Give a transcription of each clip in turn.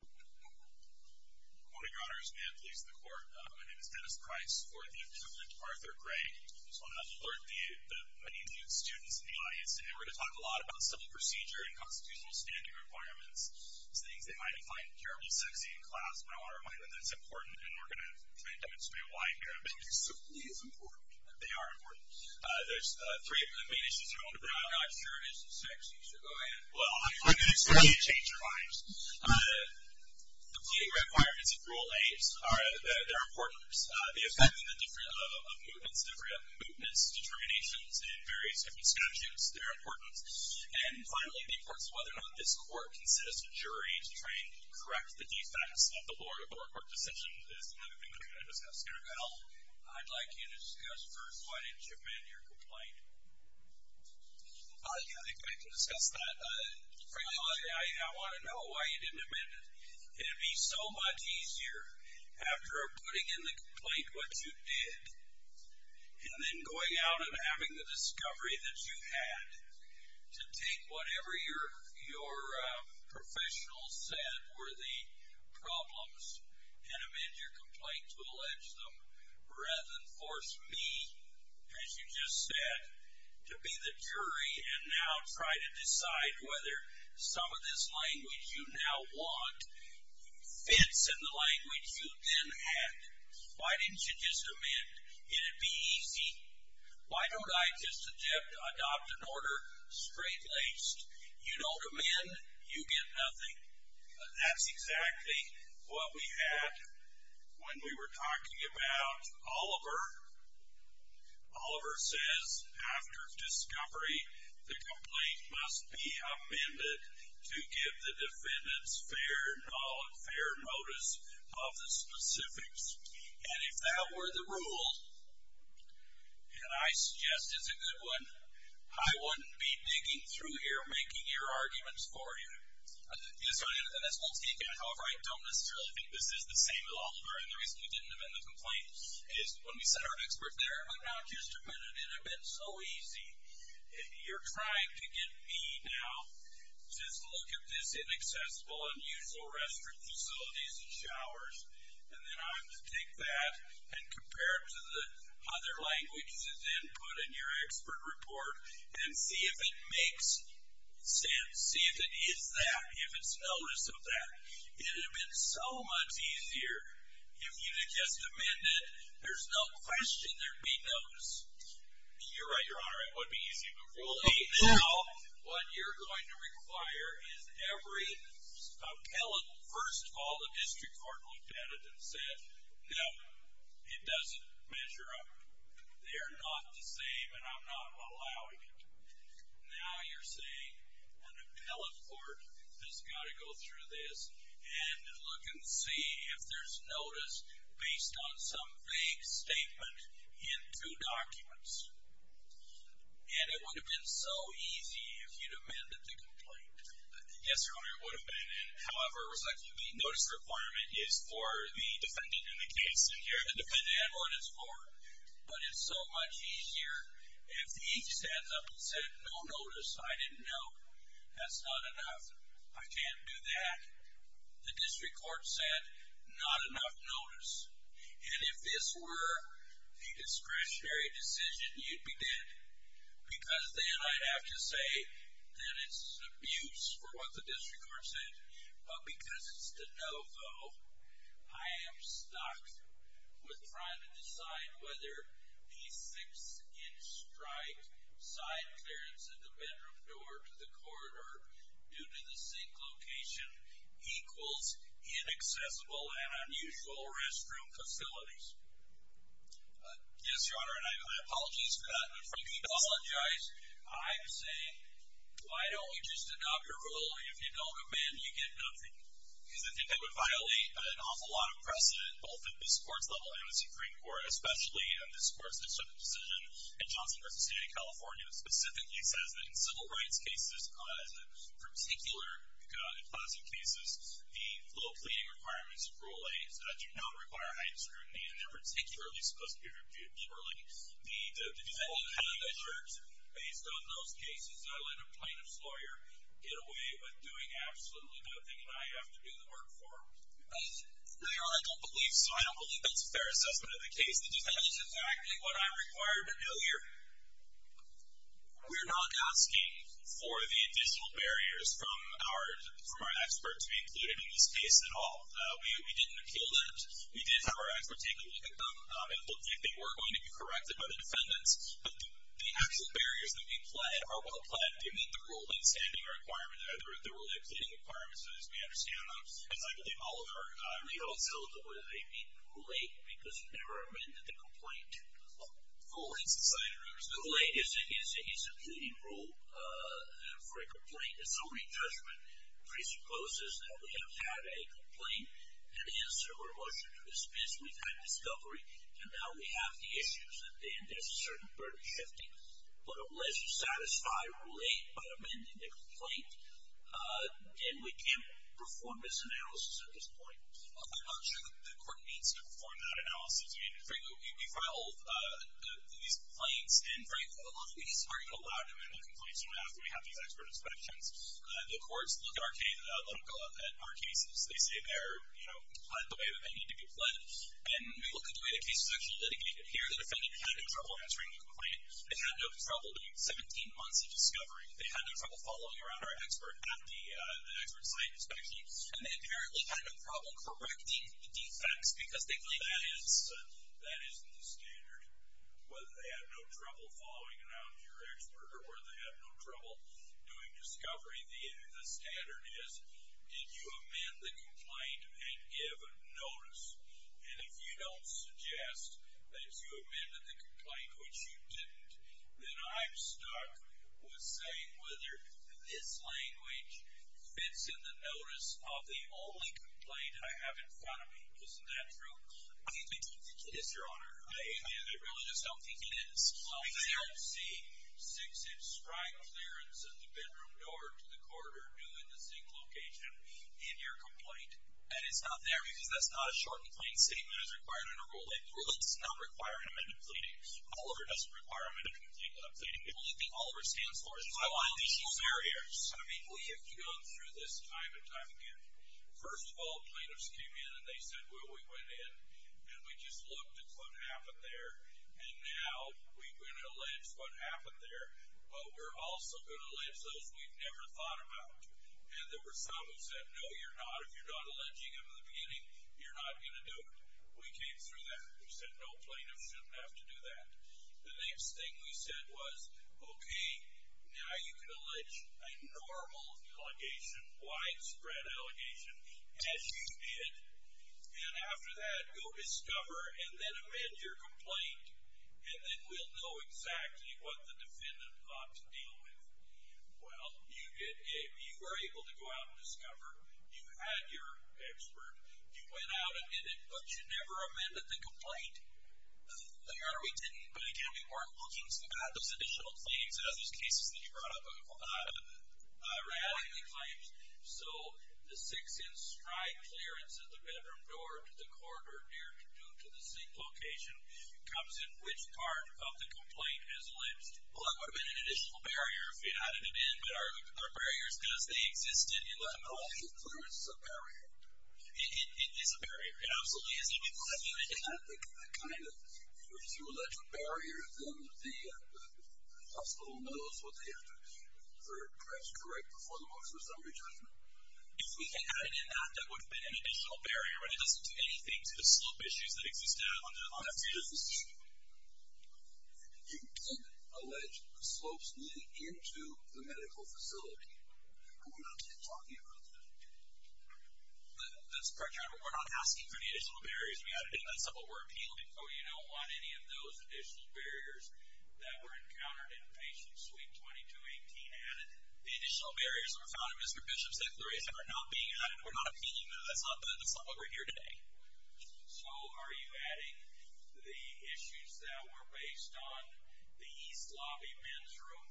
One of your honors, may it please the court, my name is Dennis Price. I support the incumbent, Arthur Gray. I just want to alert the many new students in the audience today. We're going to talk a lot about civil procedure and constitutional standing requirements. These things they might find terrible sexy in class, but I want to remind them that it's important and we're going to try to demonstrate why in here. I think civility is important. They are important. There's three of the main issues you're going to bring up. I'm not sure if it's sexy, so go ahead. Well, I'm going to expect you to change your minds. The pleading requirements of Rule 8, they're important. The effect of mootness determinations in various different statutes, they're important. And finally, the importance of whether or not this court considers a jury to try and correct the defects of the lower court decisions is another thing that we're going to discuss here. Well, I'd like you to discuss first why didn't you amend your complaint? Yeah, I think we can discuss that. I want to know why you didn't amend it. It would be so much easier after putting in the complaint what you did and then going out and having the discovery that you had to take whatever your professional said were the problems and amend your complaint to allege them rather than force me, as you just said, to be the jury and now try to decide whether some of this language you now want fits in the language you then had. Why didn't you just amend? It'd be easy. Why don't I just adopt an order straight laced? You don't amend, you get nothing. That's exactly what we had when we were talking about Oliver. Oliver says, after discovery, the complaint must be amended to give the defendants fair knowledge, fair notice of the specifics. And if that were the rule, and I suggest it's a good one, I wouldn't be digging through here making your arguments for you. And that's one thing. However, I don't necessarily think this is the same as Oliver. And the reason we didn't amend the complaint is when we sent our expert there. I'm not just amending it. It would have been so easy. You're trying to get me now just to look at this inaccessible, unusual restroom facilities and showers. And then I'm to take that and compare it to the other languages and then put in your expert report and see if it makes sense. See if it is that, if it's notice of that. It would have been so much easier if you had just amended it. There's no question there would be notice. You're right, Your Honor. It would be easy. But really, now what you're going to require is every appellate. First of all, the district court looked at it and said, no, it doesn't measure up. They are not the same, and I'm not allowing it. Now you're saying an appellate court has got to go through this and look and see if there's notice based on some vague statement in two documents. And it would have been so easy if you'd amended the complaint. Yes, Your Honor, it would have been. However, it was like the notice requirement is for the defendant in the case, and here the defendant had what it's for. But it's so much easier if he stands up and said, no notice, I didn't know. That's not enough. I can't do that. The district court said, not enough notice. And if this were a discretionary decision, you'd be dead. Because then I'd have to say that it's abuse for what the district court said. But because it's the no vote, I am stuck with trying to decide whether the six-inch strike side clearance of the bedroom door to the corridor due to the sink location equals inaccessible and unusual restroom facilities. Yes, Your Honor, and my apologies for that. If you need to apologize, I'm saying, why don't you just adopt your rule? If you don't amend, you get nothing. Because I think that would violate an awful lot of precedent, both at this Court's level and the Supreme Court, especially in this Court's decision in Johnson v. State of California, which specifically says that in civil rights cases, in particular in classic cases, the flow cleaning requirements of Rule A do not require heightened scrutiny, and they're particularly supposed to be reviewed liberally. The defendant had a measure. Based on those cases, I let a plaintiff's lawyer get away with doing absolutely nothing, and I have to do the work for him. Your Honor, I don't believe so. I don't believe that's a fair assessment of the case. That is exactly what I'm required to do here. We're not asking for the additional barriers from our expert to be included in this case at all. We didn't appeal that. We did have our expert take a look at them and look if they were going to be corrected by the defendants. But the actual barriers that we've flagged are well-plagued. They meet the rule in standing requirements, or they're really exceeding requirements, as we understand them. As I believe all of our legal counsels agree, they meet Rule A because we never amended the complaint. Rule A is a subpoena rule for a complaint. If somebody's judgment presupposes that we have had a complaint, an answer or a motion to dismiss, we've had discovery, and now we have the issues that then there's a certain burden shifting. But unless you satisfy Rule A by amending the complaint, then we can't perform this analysis at this point. I'm not sure the court needs to perform that analysis. I mean, frankly, we file these complaints, and frankly a lot of these aren't allowed to amend the complaint until after we have these expert inspections. The courts look at our cases. They say they're, you know, they need to be fled. And we look at the way the case is actually litigated here. The defendant had no trouble answering the complaint. They had no trouble doing 17 months of discovery. They had no trouble following around our expert at the expert site inspection. And they apparently had no problem correcting the defects because they believe that is the standard. Whether they had no trouble following around your expert or whether they had no trouble doing discovery, the standard is did you amend the complaint and give notice? And if you don't suggest that you amended the complaint, which you didn't, then I'm stuck with saying whether this language fits in the notice of the only complaint I have in front of me. Isn't that true? Yes, Your Honor. I really just don't think it is. They don't see six-inch spry clearance in the bedroom door to the corridor due in the same location in your complaint. And it's not there because that's not a short and plain statement as required in a rule. It's not requiring amendment pleading. Oliver doesn't require amendment pleading. All of it stands for is violation of barriers. I mean, we have gone through this time and time again. First of all, plaintiffs came in and they said, well, we went in and we just looked at what happened there. And now we're going to allege what happened there. But we're also going to allege those we've never thought about. And there were some who said, no, you're not. If you're not alleging them in the beginning, you're not going to do it. We came through that. We said, no, plaintiffs shouldn't have to do that. The next thing we said was, okay, now you can allege a normal allegation, widespread allegation, as you did. And after that, go discover and then amend your complaint. And then we'll know exactly what the defendant ought to deal with. Well, you were able to go out and discover. You had your expert. You went out and did it. But you never amended the complaint. No, Your Honor, we didn't. But, again, we weren't looking. So we got those additional claims out of those cases that you brought up, rather than claims. So the sixth-in-stride clearance of the bedroom door to the corridor, due to the same location, comes in which part of the complaint is alleged? Well, that would have been an additional barrier if you added it in. But our barrier is because they existed. No, the clearance is a barrier. It is a barrier. It absolutely is a barrier. And I think that kind of goes through a bunch of barriers. And the hospital knows what they have to address is correct before the motion of summary judgment. If we can add it in that, that would have been an additional barrier, but it doesn't do anything to the slope issues that exist now. I'll ask you this. You did allege slopes leading into the medical facility. But we're not talking about that. That's correct, Your Honor. But we're not asking for the additional barriers. We added in that stuff, but we're appealing. Oh, you don't want any of those additional barriers that were encountered in patient suite 2218 added. The additional barriers that were found in Mr. Bishop's declaration are not being added. We're not appealing them. That's not what we're here to do. So are you adding the issues that were based on the East Lobby men's room?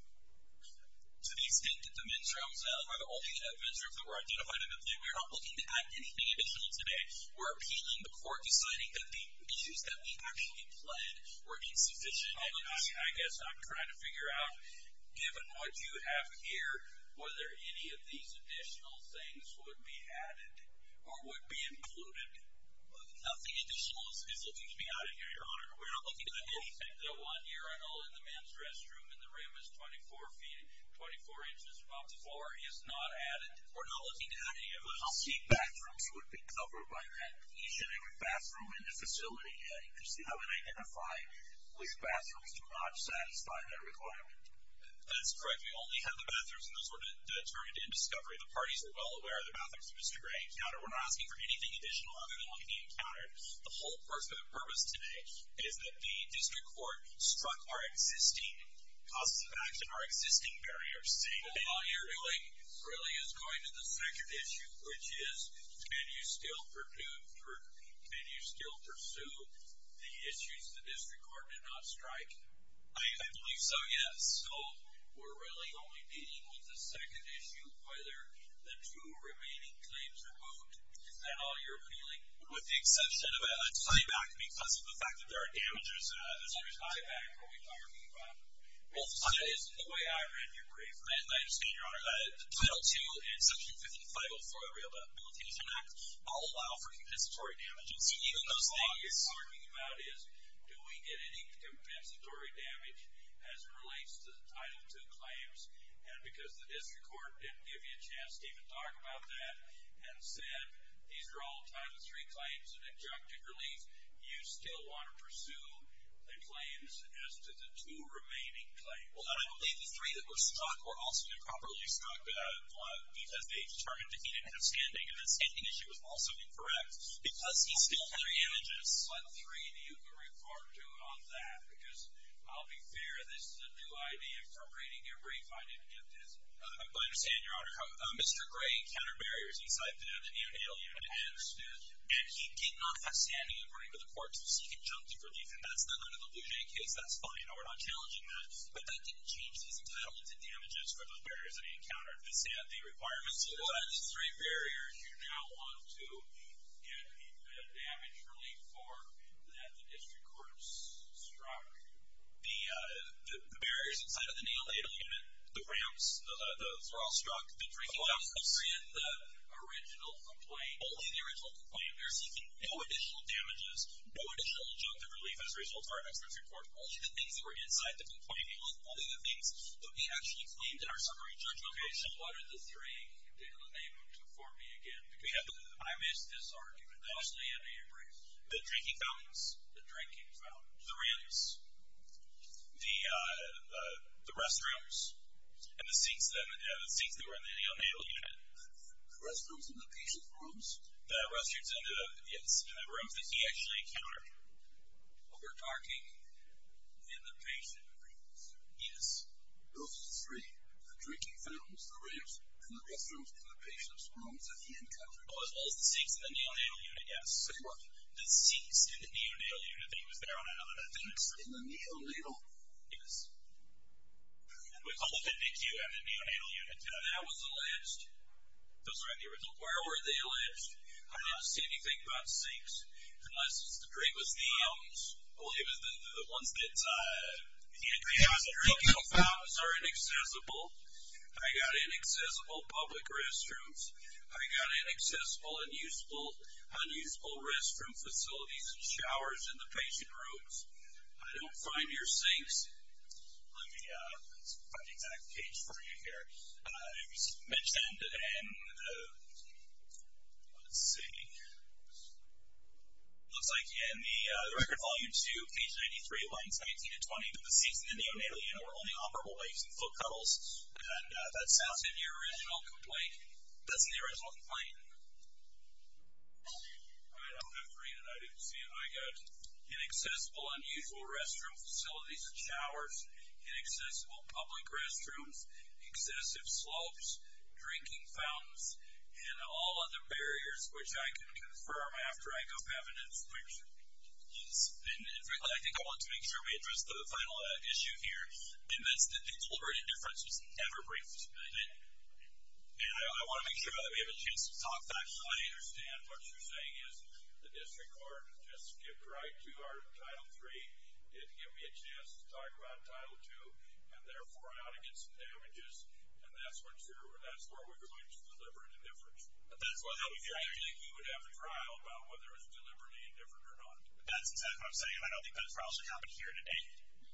To the extent that the men's rooms are the only men's rooms that were identified in this case, we're not looking to add anything additional today. We're appealing the court deciding that the issues that we actually pled were insufficient. I guess I'm trying to figure out, given what you have here, whether any of these additional things would be added or would be included. Nothing additional is looking to be added here, Your Honor. We're not looking to add anything. The one here I know in the men's restroom in the room is 24 feet, 24 inches above the floor is not added. We're not looking to add any of those. I'll see bathrooms would be covered by that. Each and every bathroom in the facility, I would identify which bathrooms do not satisfy that requirement. That's correct. We only have the bathrooms, and those were determined in discovery. The parties were well aware of the bathrooms that Mr. Gray encountered. We're not asking for anything additional other than what he encountered. The whole purpose today is that the district court struck our existing process of action, our existing barriers. All you're doing really is going to the second issue, which is can you still pursue the issues the district court did not strike? I believe so, yes. So we're really only dealing with the second issue, whether the two remaining claims are moved. Is that all you're appealing? With the exception of a tieback because of the fact that there are damages. A tieback, are we talking about? Well, the way I read your brief, Title II and Section 5504 of the Rehabilitation Act all allow for compensatory damages. So even those things you're talking about is, do we get any compensatory damage as it relates to the Title II claims? And because the district court didn't give you a chance to even talk about that and said these are all Title III claims and objective relief, you still want to pursue the claims as to the two remaining claims. Well, and I believe the three that were struck were also improperly struck because they determined that he didn't have standing and that standing issue was also incorrect because he still had damages on Title III, and you can refer to it on that because, I'll be fair, this is a new idea for reading your brief. I didn't get this. I understand, Your Honor. Mr. Gray encountered barriers inside the neonatal unit and he did not have standing according to the court to seek conjunctive relief, and that's not under the Luget case. That's fine. No, we're not challenging that. But that didn't change his entitlement to damages for those barriers that he encountered. They said the requirements for Title III barriers, you now want to get a damage relief for that the district court struck. The barriers inside of the neonatal unit, the ramps, those were all struck. The drinking dumps were in the original complaint. Only the original complaint. They're seeking no additional damages, no additional conjunctive relief as a result of our expert's report. Only the things that were inside the complaint, only the things that we actually claimed in our summary judgment. Okay, so what are the three neonatal units before me again? I missed this argument. Mostly under your brief. The drinking fountains. The drinking fountains. The ramps. The restrooms. And the seats that were in the neonatal unit. The restrooms and the patient rooms? The restrooms and the rooms that he actually encountered. We're talking in the patient rooms? Yes. Those are the three. The drinking fountains, the ramps, and the restrooms, and the patient's rooms that he encountered. Oh, as well as the seats in the neonatal unit, yes. Say what? The seats in the neonatal unit that he was there on another day. The seats in the neonatal? Yes. And we called it a DQ at the neonatal unit. That was alleged. Those were in the original. Where were they alleged? I didn't see anything about seats. Unless the drink was the ones that he encountered. The drinking fountains are inaccessible. I got inaccessible public restrooms. I got inaccessible, unusable, unusable restroom facilities and showers in the patient rooms. I don't find your sinks. Let me find the exact page for you here. It was mentioned and let's see. It looks like in the record volume 2, page 93, lines 19 to 20, the seats in the neonatal unit were only operable by using foot cuddles, and that's in the original complaint. That's in the original complaint. I don't have to read it. I didn't see it. I got inaccessible, unusual restroom facilities and showers, inaccessible public restrooms, excessive slopes, drinking fountains, and all of the barriers, which I can confirm after I go have an inspection. Yes. And I think I want to make sure we address the final issue here, and that's that the deliberate indifference was never briefed. And I want to make sure that we have a chance to talk about it. I understand what you're saying is the district court just skipped right to our Title III. It didn't give me a chance to talk about Title II, and therefore I ought to get some damages. And that's where we're going to deliberate indifference. I think we would have a trial about whether it's deliberate indifference or not. That's exactly what I'm saying. I don't think that trial should happen here today.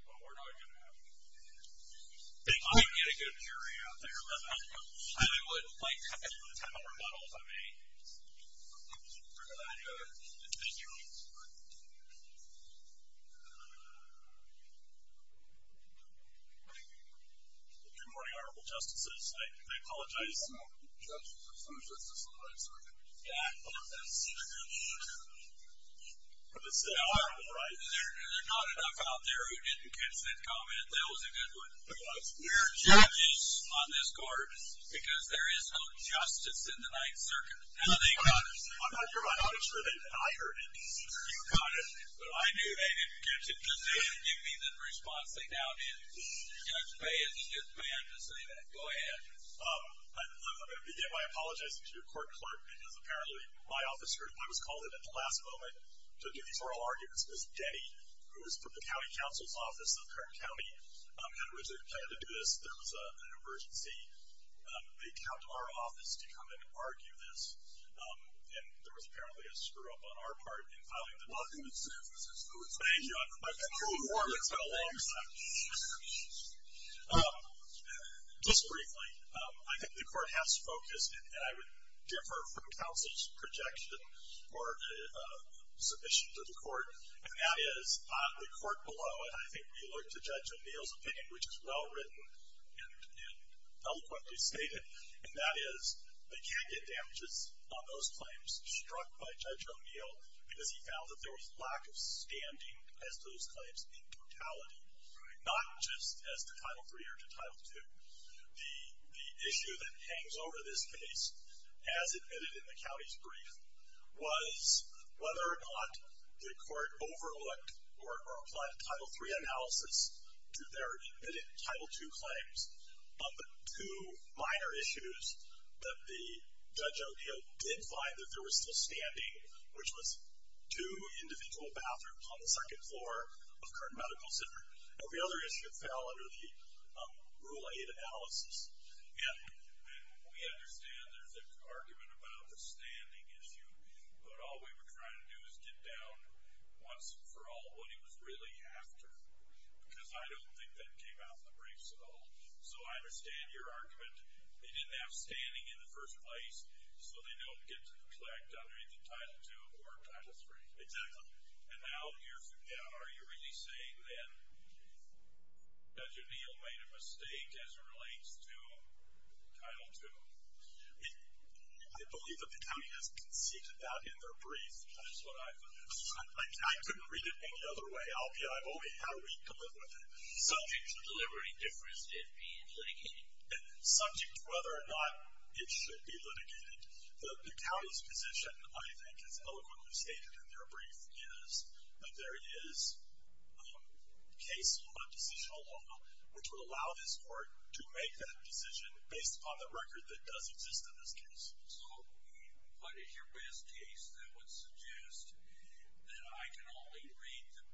Well, we're not going to have it. I would get a good period out there. I would like to have a remodel if I may. Thank you. Good morning, Honorable Justices. I apologize. Honorable Judges, there's no justice in the Ninth Circuit. Yeah, I don't think so. There's not enough out there who didn't catch that comment. That was a good one. It was. We're judges on this court because there is no justice in the Ninth Circuit. I'm not sure that I heard it. You got it. But I knew they didn't catch it because they didn't give me the response. They now did. Judge Baez is just mad to say that. Go ahead. I'm going to begin by apologizing to your court clerk, because apparently my office group, I was called in at the last moment to do these oral arguments, was Denny, who is from the County Counsel's Office of Kern County, and was expected to do this. There was an emergency. They come to our office to come and argue this, and there was apparently a screw-up on our part in filing the document. Well, it's been a long time. It's been a long time. Just briefly, I think the court has focused, and I would differ from counsel's projection or submission to the court, and that is the court below it, I think we look to Judge O'Neill's opinion, which is well-written and eloquently stated, and that is they can't get damages on those claims struck by Judge O'Neill because he found that there was lack of standing as to those claims in totality, not just as to Title III or to Title II. The issue that hangs over this case, as admitted in the county's brief, was whether or not the court overlooked or applied a Title III analysis to their admitted Title II claims. But two minor issues that the Judge O'Neill did find that there was still standing, which was two individual bathrooms on the second floor of Kern Medical Center. Now, the other issue fell under the Rule 8 analysis. And we understand there's an argument about the standing issue, but all we were trying to do is get down once and for all what he was really after, because I don't think that came out in the briefs at all. So I understand your argument. They didn't have standing in the first place, so they don't get to neglect either Title II or Title III. Exactly. And now, are you really saying then Judge O'Neill made a mistake as it relates to Title II? I believe that the county has conceded that in their brief. That is what I thought. I couldn't read it any other way. I've only had a week to live with it. Subject to delivering difference, it being litigated. And subject to whether or not it should be litigated. The county's position, I think, as eloquently stated in their brief, is that there is case law, decisional law, which would allow this court to make that decision based upon the record that does exist in this case. So what is your best case that would suggest that I can only read the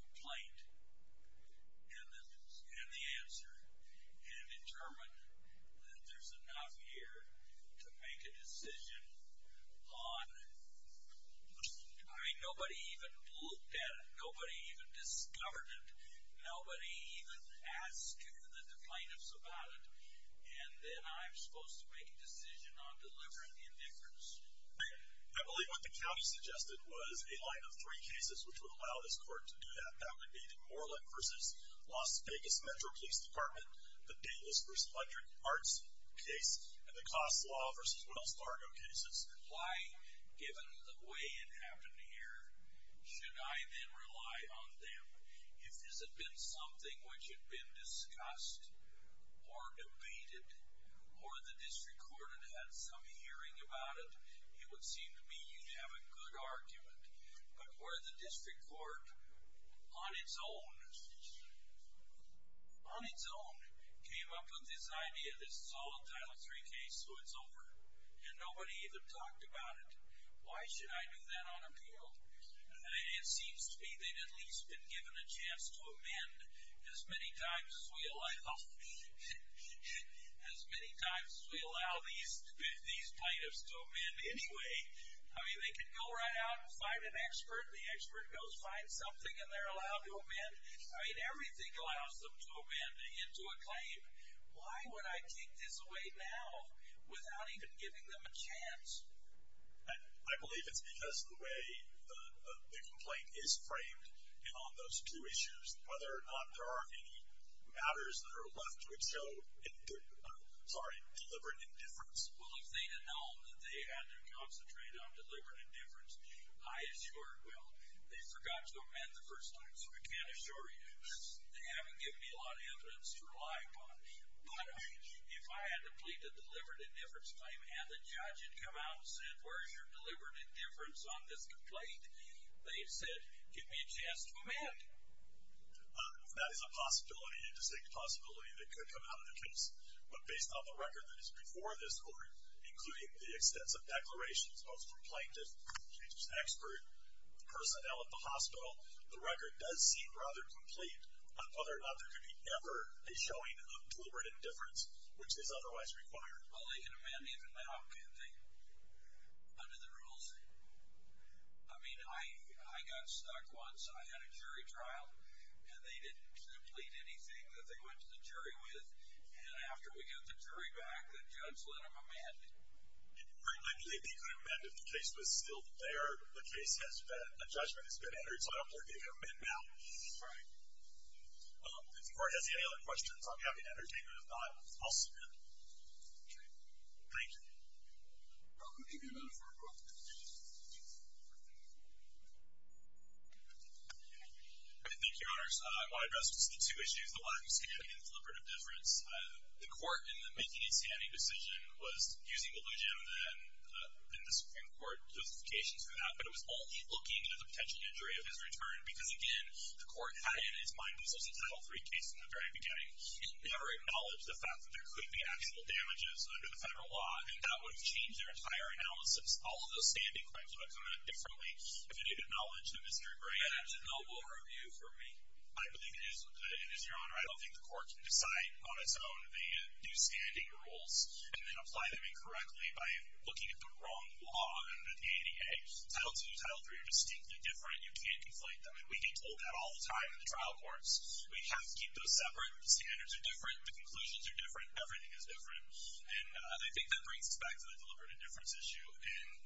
complaint and the answer and determine that there's enough here to make a decision on, I mean, nobody even looked at it. Nobody even discovered it. Nobody even asked the plaintiffs about it. And then I'm supposed to make a decision on delivering the indifference. I believe what the county suggested was a line of three cases which would allow this court to do that. That would be the Moreland v. Las Vegas Metro Police Department, the Davis v. Electric Arts case, and the Costs Law v. Wells Fargo cases. Why, given the way it happened here, should I then rely on them? If this had been something which had been discussed or debated or the district court had had some hearing about it, it would seem to me you'd have a good argument. But where the district court on its own came up with this idea, this is all a Title III case so it's over, and nobody even talked about it, why should I do that on appeal? It seems to me they've at least been given a chance to amend as many times as we allow these plaintiffs to amend anyway. I mean, they can go right out and find an expert. The expert goes find something and they're allowed to amend. I mean, everything allows them to amend into a claim. Why would I take this away now without even giving them a chance? And I believe it's because of the way the complaint is framed and on those two issues, whether or not there are any matters that are left to expose deliberate indifference. Well, if they'd have known that they had to concentrate on deliberate indifference, I assure you, they forgot to amend the first time. So I can assure you they haven't given me a lot of evidence to rely upon. But if I had to plead a deliberate indifference claim and the judge had come out and said, where's your deliberate indifference on this complaint, they've said, give me a chance to amend. That is a possibility, a distinct possibility, that could come out of the case. But based on the record that is before this Court, including the extensive declarations of the plaintiff, the plaintiff's expert, personnel at the hospital, the record does seem rather complete on whether or not there could be ever a showing of deliberate indifference, which is otherwise required. Well, they can amend even now, can't they? Under the rules? I mean, I got stuck once. I had a jury trial, and they didn't complete anything that they went to the jury with. And after we got the jury back, the judge let them amend it. I believe they could amend if the case was still there. The case has been, a judgment has been entered, so I don't believe they can amend now. Right. If the Court has any other questions, I'll be happy to entertain them. If not, I'll sit down. Okay. Thank you. I'll give you a minute for a question. Thank you, Your Honors. I want to address just the two issues, the one of standing and the deliberate indifference. The Court, in the making a standing decision, was using delusion and the Supreme Court justification for that, but it was only looking at the potential injury of his return, because, again, the Court had in its mind this was a Title III case from the very beginning. It never acknowledged the fact that there could be actual damages under the federal law, and that would have changed their entire analysis. All of those standing claims would have come out differently if it had acknowledged the mystery brain. That's a noble review for me. I believe it is, and, Your Honor, I don't think the Court can decide on its own the new standing rules and then apply them incorrectly by looking at the wrong law under the ADA. Title II and Title III are distinctly different. You can't conflate them. And we get told that all the time in the trial courts. We have to keep those separate. The standards are different. The conclusions are different. Everything is different. And I think that brings us back to the deliberate indifference issue,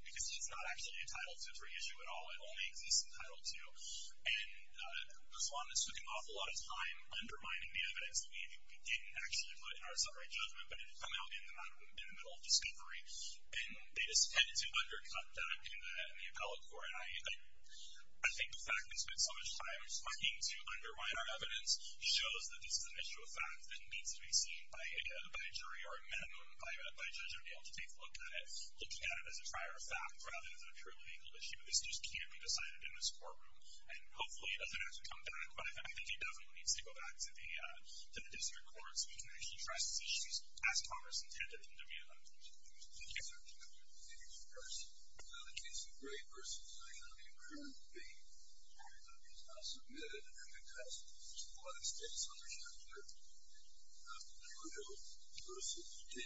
because it's not actually a Title III issue at all. It only exists in Title II. And the Swans took an awful lot of time undermining the evidence that we didn't actually put in our summary judgment, but it had come out in the middle of discovery, and they just tended to undercut that in the appellate court. And I think the fact that they spent so much time trying to undermine our evidence shows that this is an issue of fact that needs to be seen by a jury or a minimum by a judge to be able to take a look at it, looking at it as a prior fact rather than a true legal issue. This just can't be decided in this courtroom. And hopefully it doesn't have to come back, but I think it definitely needs to go back to the district court so we can actually address these issues as Congress intended them to be. Thank you. Thank you.